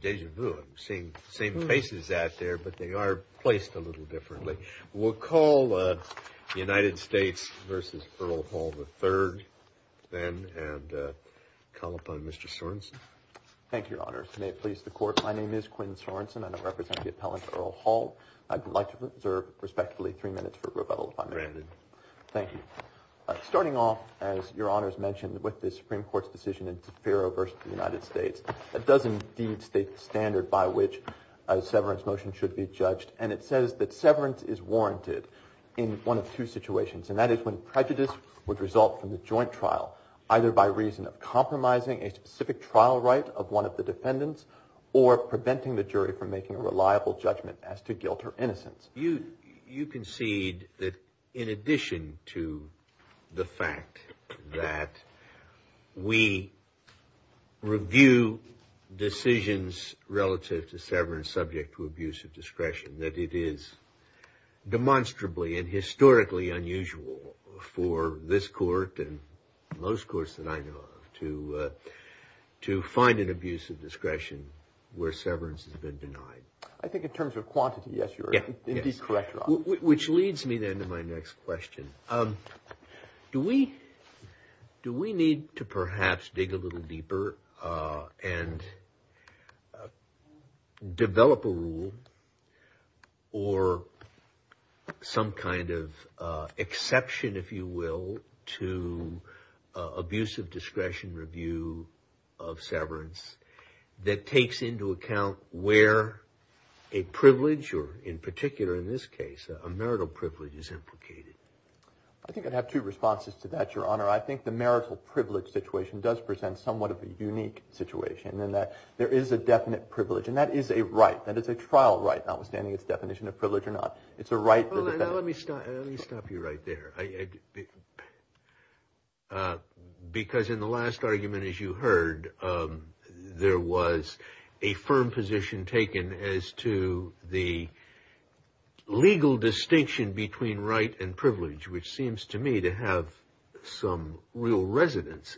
Deja vu, I'm seeing the same faces out there, but they are placed a little differently. We'll call United States v. Earl Hall III, then, and call upon Mr. Sorensen. Thank you, Your Honors. May it please the Court, my name is Quinn Sorensen. I now represent the appellant, Earl Hall. I'd like to reserve, respectively, three minutes for rebuttal if I may. Granted. Thank you. Starting off, as Your Honors mentioned, with the Supreme Court's decision in Ferro v. United States, it does indeed state the standard by which a severance motion should be judged, and it says that severance is warranted in one of two situations, and that is when prejudice would result from the joint trial, either by reason of compromising a specific trial right of one of the defendants or preventing the jury from making a reliable judgment as to guilt or innocence. You concede that in addition to the fact that we review decisions relative to severance subject to abuse of discretion, that it is demonstrably and historically unusual for this Court and most courts that I know of to find an abuse of discretion where severance has been denied. I think in terms of quantity, yes, you're indeed correct, Your Honor. Which leads me, then, to my next question. Do we need to perhaps dig a little deeper and develop a rule or some kind of exception, if you will, to abuse of discretion review of severance that takes into account where a privilege or, in particular in this case, a marital privilege is implicated? I think I'd have two responses to that, Your Honor. I think the marital privilege situation does present somewhat of a unique situation in that there is a definite privilege, and that is a right. That is a trial right, notwithstanding its definition of privilege or not. It's a right for the defendant. Let me stop you right there. Because in the last argument, as you heard, there was a firm position taken as to the legal distinction between right and privilege, which seems to me to have some real resonance.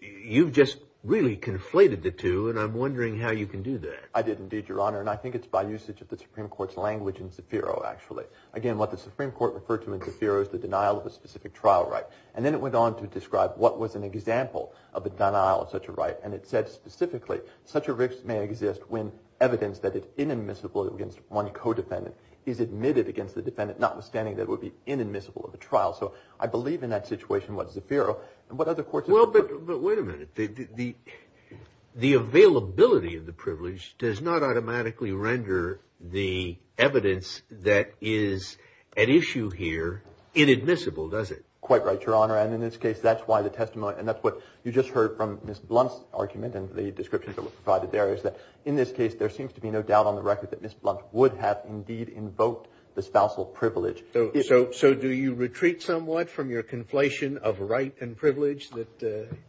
You've just really conflated the two, and I'm wondering how you can do that. I did indeed, Your Honor, and I think it's by usage of the Supreme Court's language in Zafiro, actually. Again, what the Supreme Court referred to in Zafiro is the denial of a specific trial right. And then it went on to describe what was an example of a denial of such a right, and it said specifically, such a right may exist when evidence that is inadmissible against one co-defendant is admitted against the defendant, notwithstanding that it would be inadmissible of a trial. So I believe in that situation what Zafiro and what other courts have referred to. Well, but wait a minute. The availability of the privilege does not automatically render the evidence that is at issue here inadmissible, does it? Quite right, Your Honor. And in this case, that's why the testimony, and that's what you just heard from Ms. Blunt's argument and the descriptions that were provided there, is that in this case there seems to be no doubt on the record that Ms. Blunt would have indeed invoked the spousal privilege. So do you retreat somewhat from your conflation of right and privilege?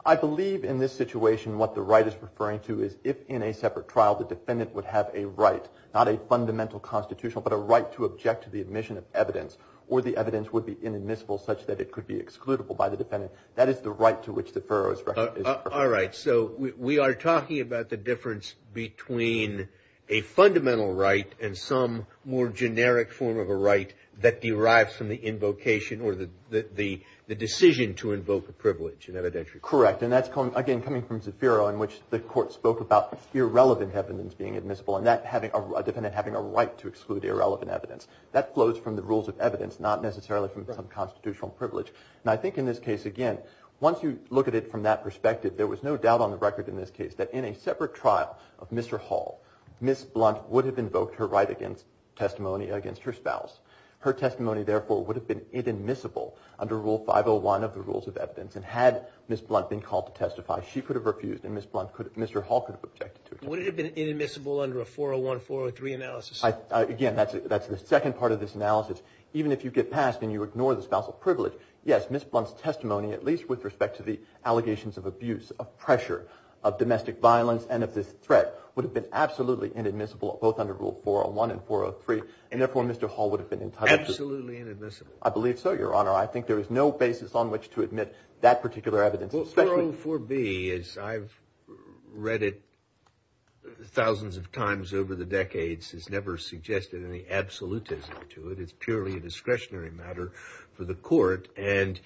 I believe in this situation what the right is referring to is if in a separate trial the defendant would have a right, not a fundamental constitutional, but a right to object to the admission of evidence, or the evidence would be inadmissible such that it could be excludable by the defendant. That is the right to which Zafiro is referring. All right. So we are talking about the difference between a fundamental right and some more generic form of a right that derives from the invocation or the decision to invoke a privilege in evidentiary court. Correct. And that's, again, coming from Zafiro in which the court spoke about irrelevant evidence being admissible and a defendant having a right to exclude irrelevant evidence. That flows from the rules of evidence, not necessarily from some constitutional privilege. And I think in this case, again, once you look at it from that perspective, there was no doubt on the record in this case that in a separate trial of Mr. Hall, Ms. Blunt would have invoked her right against testimony against her spouse. Her testimony, therefore, would have been inadmissible under Rule 501 of the rules of evidence. And had Ms. Blunt been called to testify, she could have refused and Mr. Hall could have objected to it. Would it have been inadmissible under a 401, 403 analysis? Again, that's the second part of this analysis. Even if you get passed and you ignore the spousal privilege, yes, Ms. Blunt's testimony, at least with respect to the allegations of abuse, of pressure, of domestic violence and of this threat, would have been absolutely inadmissible both under Rule 401 and 403, and therefore Mr. Hall would have been entitled I believe so, Your Honor. I think there is no basis on which to admit that particular evidence. Rule 4B, as I've read it thousands of times over the decades, has never suggested any absolutism to it. It's purely a discretionary matter for the court. And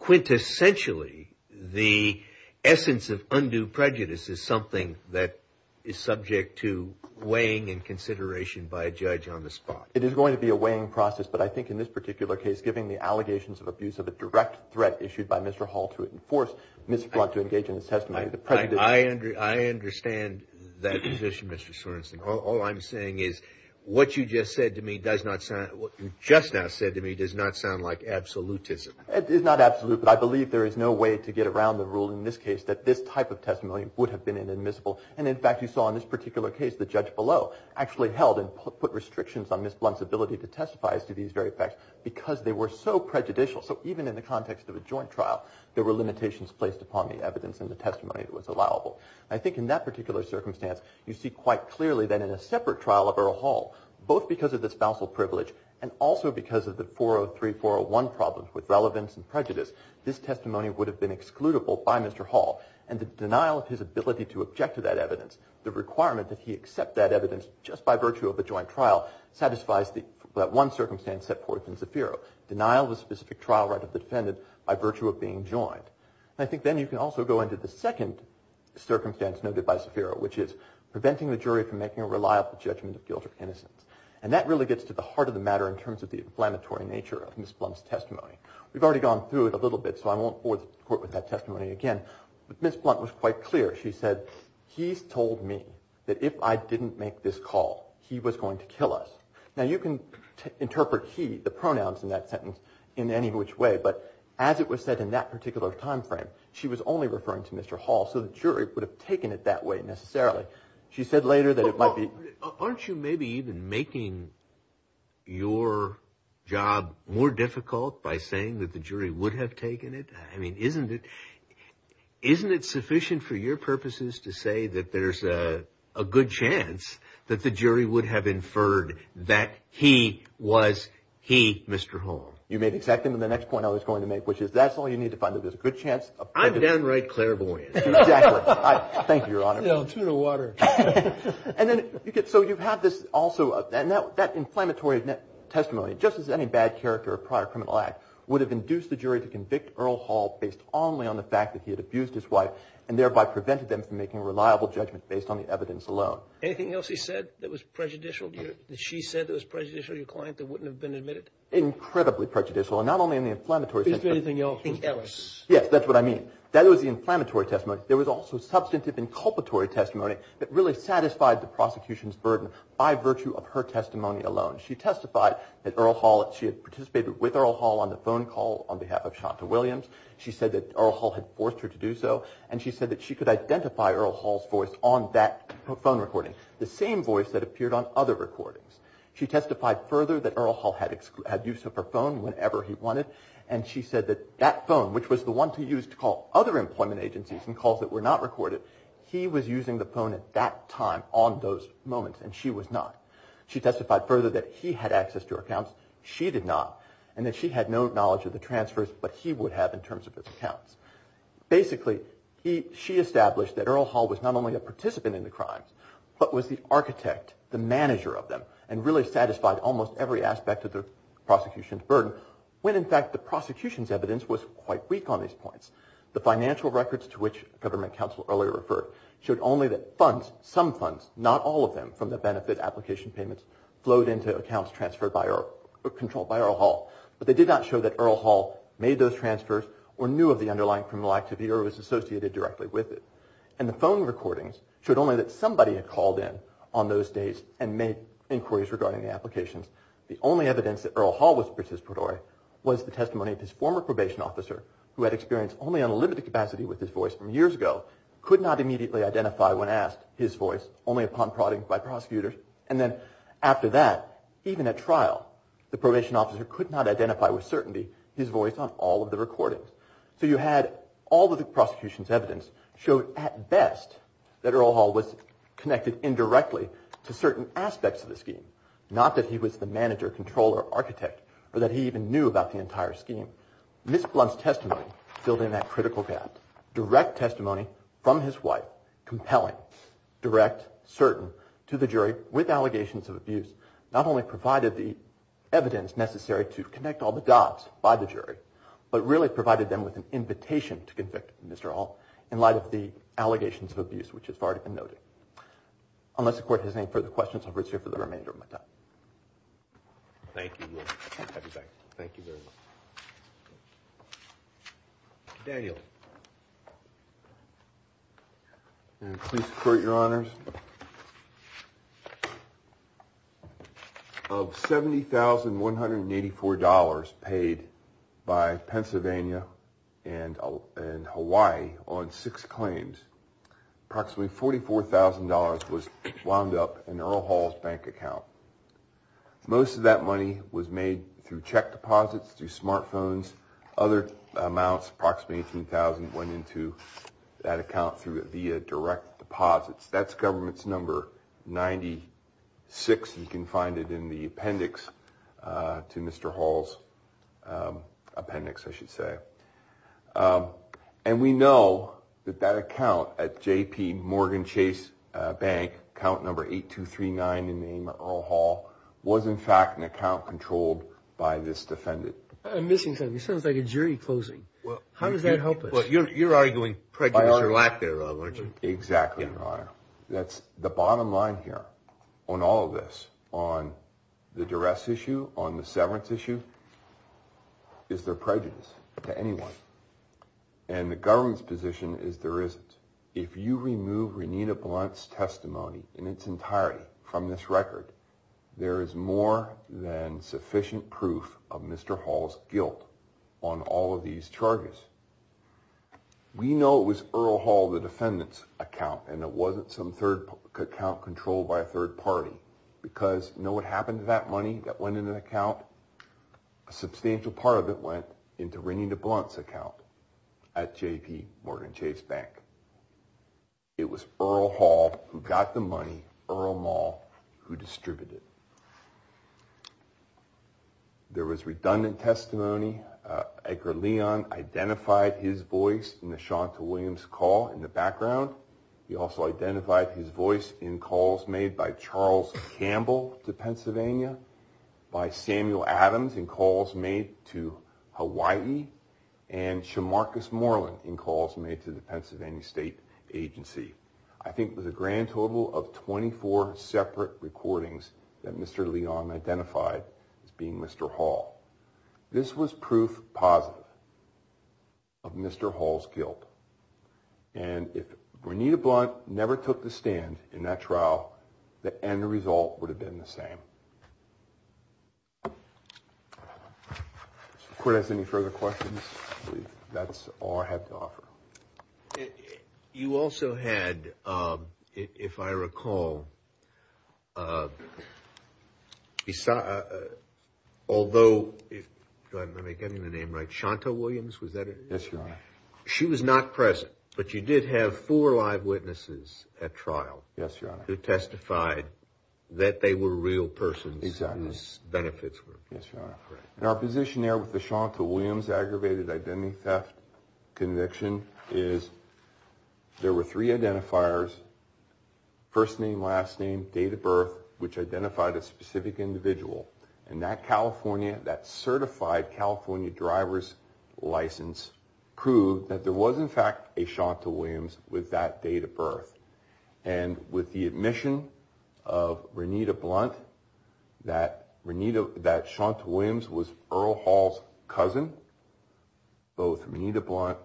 quintessentially the essence of undue prejudice is something that is subject to weighing and consideration by a judge on the spot. It is going to be a weighing process, but I think in this particular case, given the allegations of abuse of a direct threat issued by Mr. Hall to enforce Ms. Blunt to engage in his testimony, the President I understand that position, Mr. Sorensen. All I'm saying is what you just now said to me does not sound like absolutism. It is not absolute, but I believe there is no way to get around the rule in this case that this type of testimony would have been inadmissible. And in fact, you saw in this ability to testify as to these very facts because they were so prejudicial. So even in the context of a joint trial, there were limitations placed upon the evidence and the testimony that was allowable. I think in that particular circumstance, you see quite clearly that in a separate trial of Earl Hall, both because of the spousal privilege and also because of the 403-401 problems with relevance and prejudice, this testimony would have been excludable by Mr. Hall. And the denial of his ability to object to that evidence, the requirement that he object by virtue of a joint trial, satisfies that one circumstance set forth in Zafiro, denial of a specific trial right of the defendant by virtue of being joined. And I think then you can also go into the second circumstance noted by Zafiro, which is preventing the jury from making a reliable judgment of guilt or innocence. And that really gets to the heart of the matter in terms of the inflammatory nature of Ms. Blunt's testimony. We've already gone through it a little bit, so I won't bore the Court with that testimony again. But Ms. Blunt was quite clear. She said, he's told me that if I didn't make this call, he was going to kill us. Now, you can interpret he, the pronouns in that sentence, in any which way, but as it was said in that particular time frame, she was only referring to Mr. Hall, so the jury would have taken it that way necessarily. She said later that it might be... Aren't you maybe even making your job more difficult by saying that the jury would have taken it? I mean, isn't it sufficient for your purposes to say that there's a good chance that the jury would have inferred that he was he, Mr. Hall? You made exactly the next point I was going to make, which is that's all you need to find that there's a good chance of... I'm downright clairvoyant. Exactly. Thank you, Your Honor. No, tuna water. And then, so you have this also, and that inflammatory testimony, just as any bad character of prior criminal act, would have induced the jury to convict Earl Hall based only on the fact that he had abused his wife, and thereby prevented them from making a reliable judgment based on the evidence alone. Anything else he said that was prejudicial, that she said that was prejudicial, your client, that wouldn't have been admitted? Incredibly prejudicial, and not only in the inflammatory... Is there anything else? Yes, that's what I mean. That was the inflammatory testimony. There was also substantive inculpatory testimony that really satisfied the prosecution's burden by virtue of her testimony alone. She testified that Earl Hall, she had participated with Earl Hall on the phone call on behalf of Chanta Williams. She said that Earl Hall had forced her to do so, and she said that she could identify Earl Hall's voice on that phone recording, the same voice that appeared on other recordings. She testified further that Earl Hall had use of her phone whenever he wanted, and she said that that phone, which was the one to use to call other employment agencies and calls that were not recorded, he was using the phone at that time on those moments, and she was not. She testified further that he had access to her accounts, she did not, and that she had no knowledge of the transfers, but he would have in terms of his not only a participant in the crimes, but was the architect, the manager of them, and really satisfied almost every aspect of the prosecution's burden, when in fact the prosecution's evidence was quite weak on these points. The financial records to which government counsel earlier referred, showed only that funds, some funds, not all of them from the benefit application payments, flowed into accounts transferred by or controlled by Earl Hall, but they did not show that Earl Hall made those transfers or knew of the underlying criminal activity or was associated directly with it. And the phone recordings showed only that somebody had called in on those days and made inquiries regarding the applications. The only evidence that Earl Hall was participatory was the testimony of his former probation officer, who had experience only on a limited capacity with his voice from years ago, could not immediately identify when asked his voice, only upon prodding by prosecutors, and then after that, even at trial, the probation officer could not identify with certainty his voice on all of the recordings. So you had all of the prosecution's evidence showed at best that Earl Hall was connected indirectly to certain aspects of the scheme, not that he was the manager, controller, architect, or that he even knew about the entire scheme. Ms. Blunt's testimony filled in that critical gap. Direct testimony from his wife, compelling, direct, certain, to the jury with allegations of abuse, not only provided the evidence necessary to connect all the dots by the jury, but really provided them with an invitation to convict Mr. Hall in light of the allegations of abuse, which has already been noted. Unless the court has any further questions, I'll reserve the remainder of my time. Thank you. I'll be back. Thank you very much. Daniel. Please support your honors. Of $70,184 paid by Pennsylvania and Hawaii on six claims, approximately $44,000 was wound up in Earl Hall's bank account. Most of that money was made through check deposits, through smartphones, other amounts, approximately $18,000 went into that account via direct deposits. That's government's number 96. You can find it in the appendix to Mr. Hall's appendix, I should say. And we know that that account at JPMorgan Chase Bank, account number 8239 in the name of Earl Hall, was in fact an account controlled by this defendant. I'm missing something. It sounds like a jury closing. How does that help us? You're arguing prejudice or lack thereof, aren't you? Exactly, your honor. The bottom line here on all of this, on the duress issue, on the severance issue, is there prejudice to anyone? And the government's position is there isn't. If you remove Renita Blunt's testimony in its entirety from this record, there is more than sufficient proof of Mr. Hall's guilt on all of these charges. We know it was Earl Hall, the defendant's account, and it wasn't some third account controlled by a third party, because you know what happened to that money that went into the account? A substantial part of it went into Renita Blunt's account at JPMorgan Chase Bank. It was Earl Hall who got the money, Earl Maul who distributed it. There was redundant testimony. Edgar Leon identified his voice in the Chantal Williams call in the background. He also identified his voice in calls made by Charles Campbell to Pennsylvania, by Samuel Adams in calls made to Hawaii, and Chamarcus Moreland in calls made to the Pennsylvania State Agency. I think it was a grand total of 24 separate recordings that Mr. Leon identified as being Mr. Hall. This was proof positive of Mr. Hall's guilt, and if Renita Blunt never took the stand in that trial, the end result would have been the same. If the Court has any further questions, that's all I have to offer. You also had, if I recall, although – go ahead and let me get the name right – Chantal Williams, was that her name? Yes, Your Honor. She was not present, but you did have four live witnesses at trial. Yes, Your Honor. Who testified that they were real persons. Exactly. Whose benefits were – Yes, Your Honor. And our position there with the Chantal Williams aggravated identity theft conviction is there were three identifiers, first name, last name, date of birth, which identified a specific individual. And that California, that certified California driver's license proved that there was in fact a Chantal Williams with that date of birth. And with the admission of Renita Blunt that Chantal Williams was Earl Hall's cousin, both Renita Blunt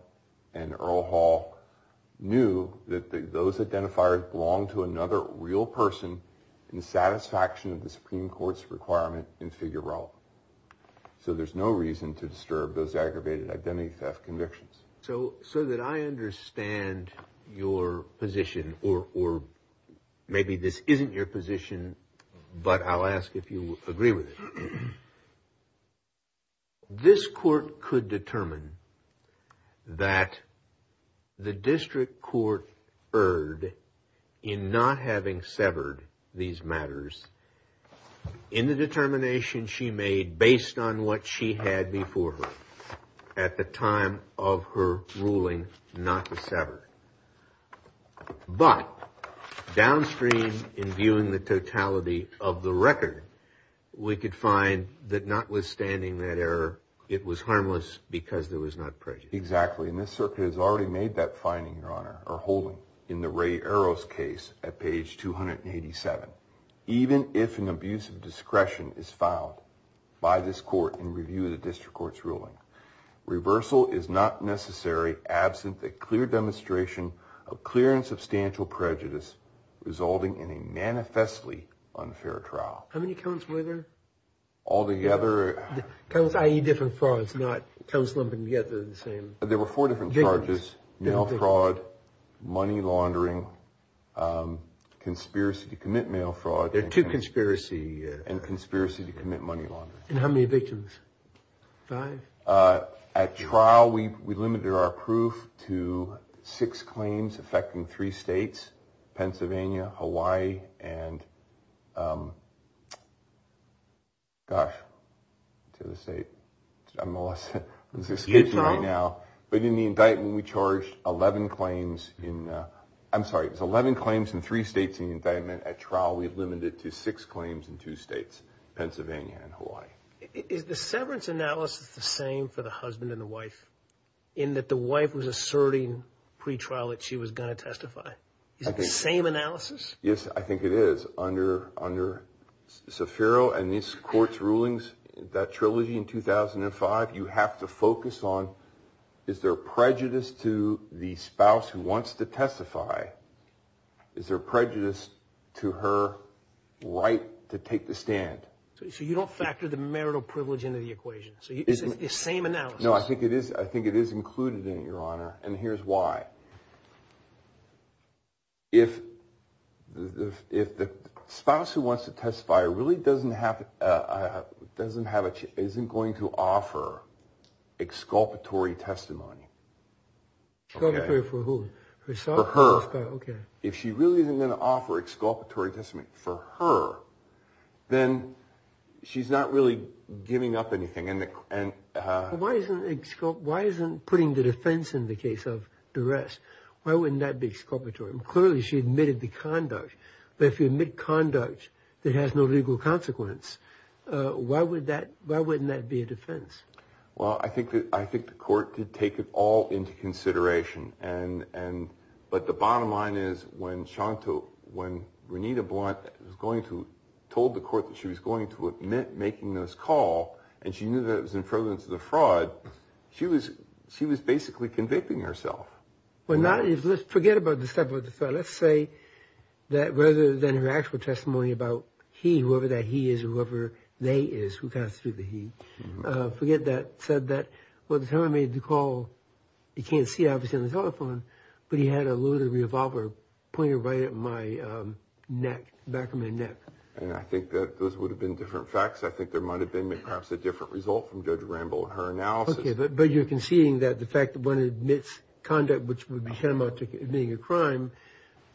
and Earl Hall knew that those identifiers belonged to another real person in satisfaction of the Supreme Court's requirement in figure role. So there's no reason to disturb those aggravated identity theft convictions. So that I understand your position, or maybe this isn't your position, but I'll ask if you agree with it. This court could determine that the district court erred in not having severed these matters in the determination she made based on what she had before her at the time of her ruling not to sever. But downstream in viewing the totality of the record, we could find that notwithstanding that error, it was harmless because there was not prejudice. Exactly. And this circuit has already made that finding, Your Honor, or holding in the Ray Arrows case at page 287. Even if an abuse of discretion is found by this court in review of the district court's ruling, reversal is not necessary absent a clear demonstration of clear and substantial prejudice resulting in a manifestly unfair trial. How many counts were there? All together. Counts, i.e. different frauds, not counts lumping together the same. There were four different charges, mail fraud, money laundering, conspiracy to commit mail fraud. There are two conspiracy. And conspiracy to commit money laundering. And how many victims? Five? At trial, we limited our proof to six claims affecting three states, Pennsylvania, Hawaii, and gosh, to the state. I'm lost. But in the indictment, we charged 11 claims in three states in the indictment. At trial, we limited it to six claims in two states, Pennsylvania and Hawaii. Is the severance analysis the same for the husband and the wife in that the wife was asserting pre-trial that she was going to testify? Is it the same analysis? Yes, I think it is. Under Saffiro and this court's rulings, that trilogy in 2005, you have to focus on is there prejudice to the spouse who wants to testify? Is there prejudice to her right to take the stand? So you don't factor the marital privilege into the equation? Is it the same analysis? No, I think it is. I think it is included in it, Your Honor. And here's why. If the spouse who wants to testify really doesn't have, isn't going to offer exculpatory testimony. Exculpatory for who? For her. Okay. If she really isn't going to offer exculpatory testimony for her, then she's not really giving up anything. Why isn't putting the defense in the case of duress, why wouldn't that be exculpatory? Clearly she admitted the conduct. But if you admit conduct that has no legal consequence, why wouldn't that be a defense? Well, I think the court did take it all into consideration. But the bottom line is when Renita Blunt told the court that she was going to admit making this call, and she knew that it was in prevalence of the fraud, she was basically convicting herself. Well, forget about the step of the fraud. Let's say that rather than her actual testimony about he, whoever that he is or whoever they is, who constitute the he, forget that, said that, well, the time I made the call, you can't see obviously on the telephone, but he had a loaded revolver pointed right at my neck, back of my neck. And I think that those would have been different facts. I think there might have been perhaps a different result from Judge Ramble and her analysis. Okay, but you're conceding that the fact that one admits conduct which would be tantamount to admitting a crime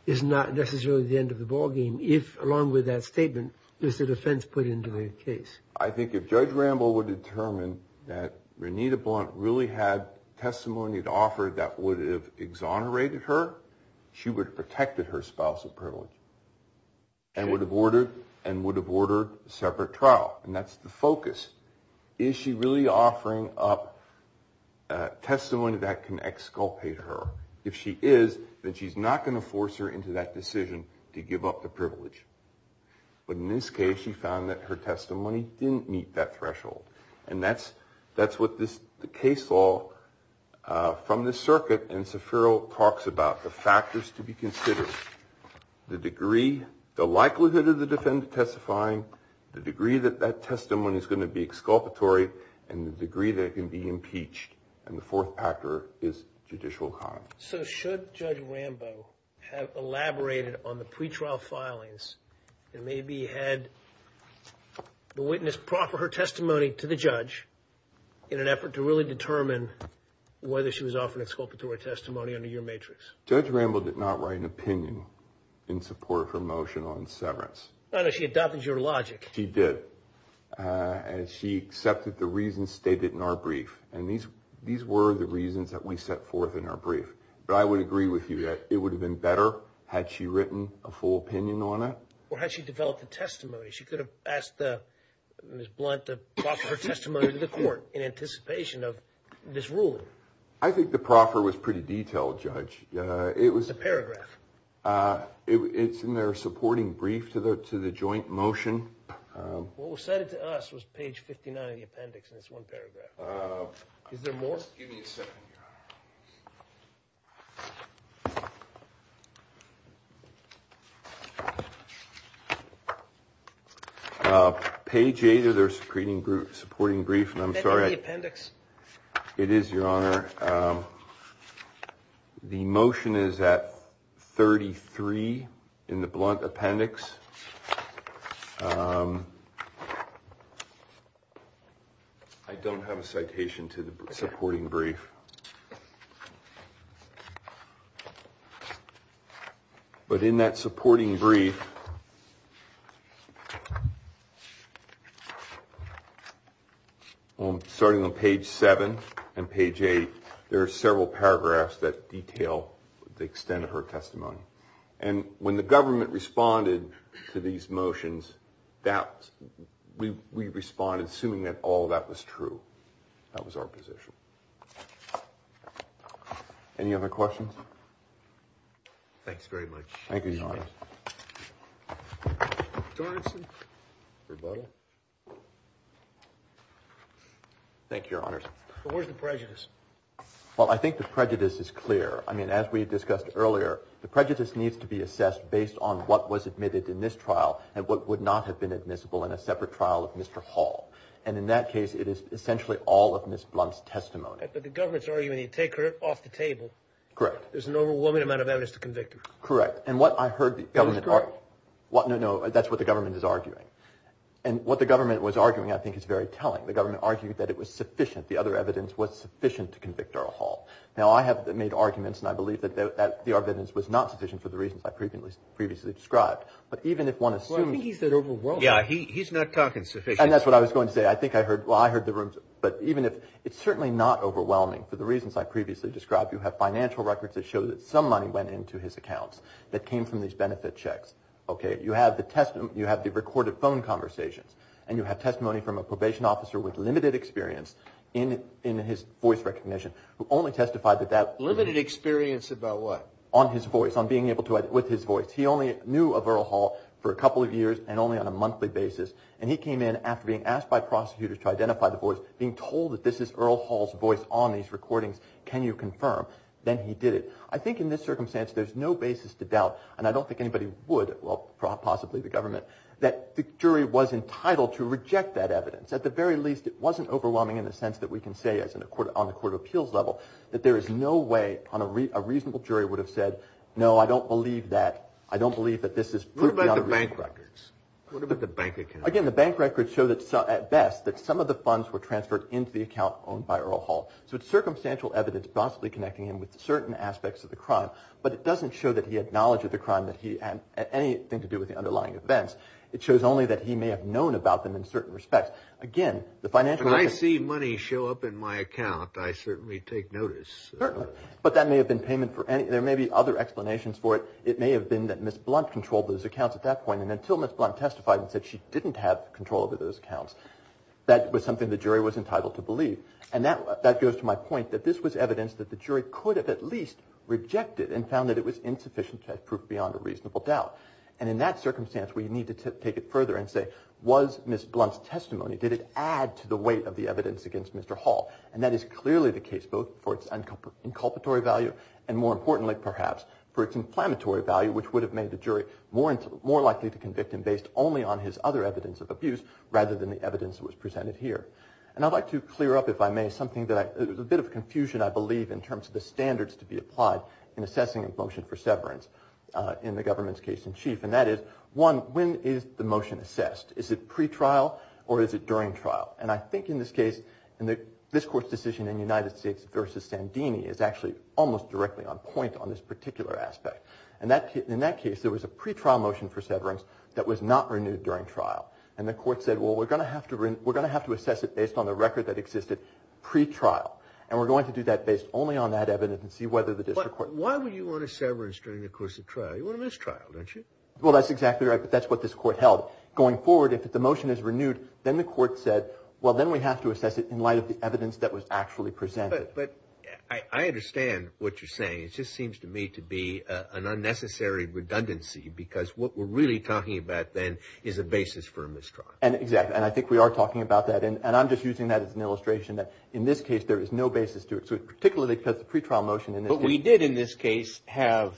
is not necessarily the end of the ballgame if, along with that statement, there's a defense put into the case. I think if Judge Ramble would determine that Renita Blunt really had testimony to offer that would have exonerated her, she would have protected her spouse of privilege and would have ordered a separate trial, and that's the focus. Is she really offering up testimony that can exculpate her? If she is, then she's not going to force her into that decision to give up the privilege. But in this case, she found that her testimony didn't meet that threshold, and that's what the case law from the circuit in Sefero talks about, the factors to be considered, the degree, the likelihood of the defendant testifying, the degree that that testimony is going to be exculpatory, and the degree that it can be impeached, and the fourth factor is judicial conduct. So should Judge Ramble have elaborated on the pretrial filings and maybe had the witness proffer her testimony to the judge in an effort to really determine whether she was offering exculpatory testimony under your matrix? Judge Ramble did not write an opinion in support of her motion on severance. No, no, she adopted your logic. She did. She accepted the reasons stated in our brief, and these were the reasons that we set forth in our brief. But I would agree with you that it would have been better had she written a full opinion on it. Or had she developed a testimony? She could have asked Ms. Blunt to proffer her testimony to the court in anticipation of this ruling. I think the proffer was pretty detailed, Judge. It was a paragraph. It's in their supporting brief to the joint motion. What was cited to us was page 59 in the appendix, and it's one paragraph. Is there more? Give me a second, Your Honor. Page 8 of their supporting brief, and I'm sorry. Is that in the appendix? It is, Your Honor. The motion is at 33 in the Blunt appendix. I don't have a citation to the supporting brief. But in that supporting brief, starting on page 7 and page 8, there are several paragraphs that detail the extent of her testimony. And when the government responded to these motions, we responded assuming that all of that was true. That was our position. Any other questions? Thanks very much. Thank you, Your Honor. Thank you, Your Honor. Where's the prejudice? Well, I think the prejudice is clear. I mean, as we discussed earlier, the prejudice needs to be assessed based on what was admitted in this trial and what would not have been admissible in a separate trial of Mr. Hall. And in that case, it is essentially all of Ms. Blunt's testimony. But the government's arguing you take her off the table. Correct. There's an overwhelming amount of evidence to convict her. Correct. And what I heard the government argue — It was correct. No, no, that's what the government is arguing. And what the government was arguing, I think, is very telling. The government argued that it was sufficient, the other evidence was sufficient to convict Earl Hall. Now, I have made arguments, and I believe that the evidence was not sufficient for the reasons I previously described. But even if one assumes — Well, I think he said overwhelming. Yeah, he's not talking sufficient. And that's what I was going to say. I think I heard — well, I heard the — but even if — it's certainly not overwhelming. For the reasons I previously described, you have financial records that show that some money went into his accounts that came from these benefit checks, okay? You have the recorded phone conversations, and you have testimony from a probation officer with limited experience in his voice recognition who only testified that that — Limited experience about what? On his voice, on being able to — with his voice. He only knew of Earl Hall for a couple of years and only on a monthly basis. And he came in after being asked by prosecutors to identify the voice, being told that this is Earl Hall's voice on these recordings. Can you confirm? Then he did it. I think in this circumstance, there's no basis to doubt, and I don't think anybody would, well, possibly the government, that the jury was entitled to reject that evidence. At the very least, it wasn't overwhelming in the sense that we can say on the court of appeals level that there is no way a reasonable jury would have said, no, I don't believe that. I don't believe that this is — What about the bank records? What about the bank account? Again, the bank records show at best that some of the funds were transferred into the account owned by Earl Hall. So it's circumstantial evidence possibly connecting him with certain aspects of the crime, but it doesn't show that he had knowledge of the crime, that he had anything to do with the underlying events. It shows only that he may have known about them in certain respects. Again, the financial — When I see money show up in my account, I certainly take notice. Certainly. But that may have been payment for any — there may be other explanations for it. It may have been that Ms. Blunt controlled those accounts at that point, and until Ms. Blunt testified and said she didn't have control over those accounts, that was something the jury was entitled to believe. And that goes to my point, that this was evidence that the jury could have at least rejected and found that it was insufficient to have proof beyond a reasonable doubt. And in that circumstance, we need to take it further and say, was Ms. Blunt's testimony, did it add to the weight of the evidence against Mr. Hall? And that is clearly the case, both for its inculpatory value, and more importantly, perhaps, for its inflammatory value, which would have made the jury more likely to convict him based only on his other evidence of abuse rather than the evidence that was presented here. And I'd like to clear up, if I may, something that I — there's a bit of confusion, I believe, in terms of the standards to be applied in assessing a motion for severance in the government's case-in-chief, and that is, one, when is the motion assessed? Is it pre-trial or is it during trial? And I think in this case, this Court's decision in the United States versus Sandini is actually almost directly on point on this particular aspect. And in that case, there was a pre-trial motion for severance that was not renewed during trial, and the Court said, well, we're going to have to assess it based on the record that existed pre-trial, and we're going to do that based only on that evidence and see whether the district court — But why would you want a severance during the course of trial? You want a mistrial, don't you? Well, that's exactly right, but that's what this Court held. Going forward, if the motion is renewed, then the Court said, well, then we have to assess it in light of the evidence that was actually presented. But I understand what you're saying. It just seems to me to be an unnecessary redundancy because what we're really talking about, then, is a basis for a mistrial. Exactly, and I think we are talking about that, and I'm just using that as an illustration that in this case there is no basis to it, particularly because the pre-trial motion in this case — But we did in this case have,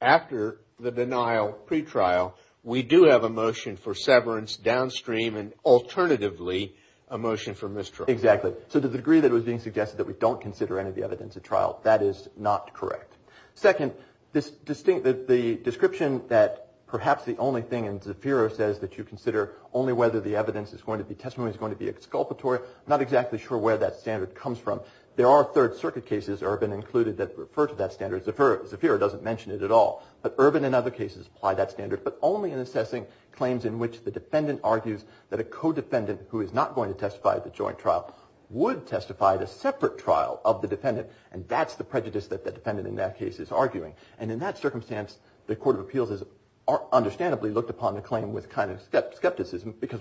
after the denial pre-trial, we do have a motion for severance downstream and alternatively a motion for mistrial. Exactly. So to the degree that it was being suggested that we don't consider any of the evidence at trial, that is not correct. Second, the description that perhaps the only thing in Zafiro says that you consider only whether the evidence is going to be testimony, is going to be exculpatory, I'm not exactly sure where that standard comes from. There are Third Circuit cases, Ervin included, that refer to that standard. Zafiro doesn't mention it at all. But Ervin and other cases apply that standard, but only in assessing claims in which the defendant argues that a co-defendant who is not going to testify at the joint trial would testify at a separate trial of the defendant, and that's the prejudice that the defendant in that case is arguing. Because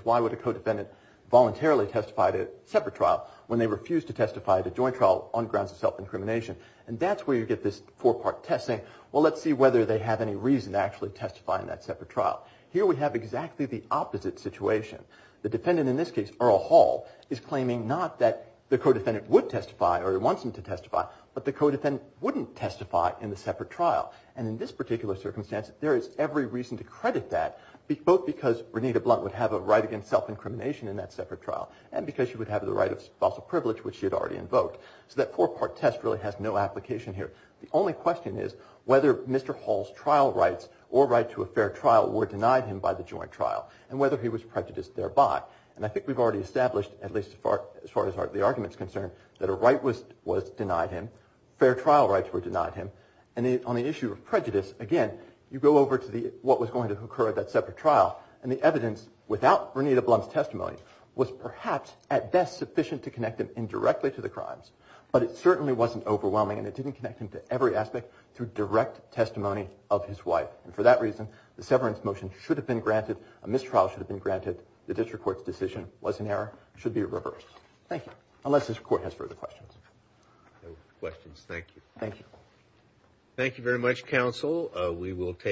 why would a co-defendant voluntarily testify at a separate trial when they refuse to testify at a joint trial on grounds of self-incrimination? And that's where you get this four-part test saying, well let's see whether they have any reason to actually testify in that separate trial. Here we have exactly the opposite situation. The defendant in this case, Earl Hall, is claiming not that the co-defendant would testify or wants him to testify, but the co-defendant wouldn't testify in the separate trial. And in this particular circumstance, there is every reason to credit that both because Renita Blunt would have a right against self-incrimination in that separate trial and because she would have the right of spousal privilege, which she had already invoked. So that four-part test really has no application here. The only question is whether Mr. Hall's trial rights or right to a fair trial were denied him by the joint trial and whether he was prejudiced thereby. And I think we've already established, at least as far as the argument is concerned, that a right was denied him, fair trial rights were denied him, and on the issue of prejudice, again, you go over to what was going to occur at that separate trial, and the evidence without Renita Blunt's testimony was perhaps at best sufficient to connect him indirectly to the crimes, but it certainly wasn't overwhelming and it didn't connect him to every aspect through direct testimony of his wife. And for that reason, the severance motion should have been granted, a mistrial should have been granted, the district court's decision was in error, should be reversed. Thank you. Unless the court has further questions. No questions. Thank you. Thank you. Thank you very much, counsel. We will take a short break.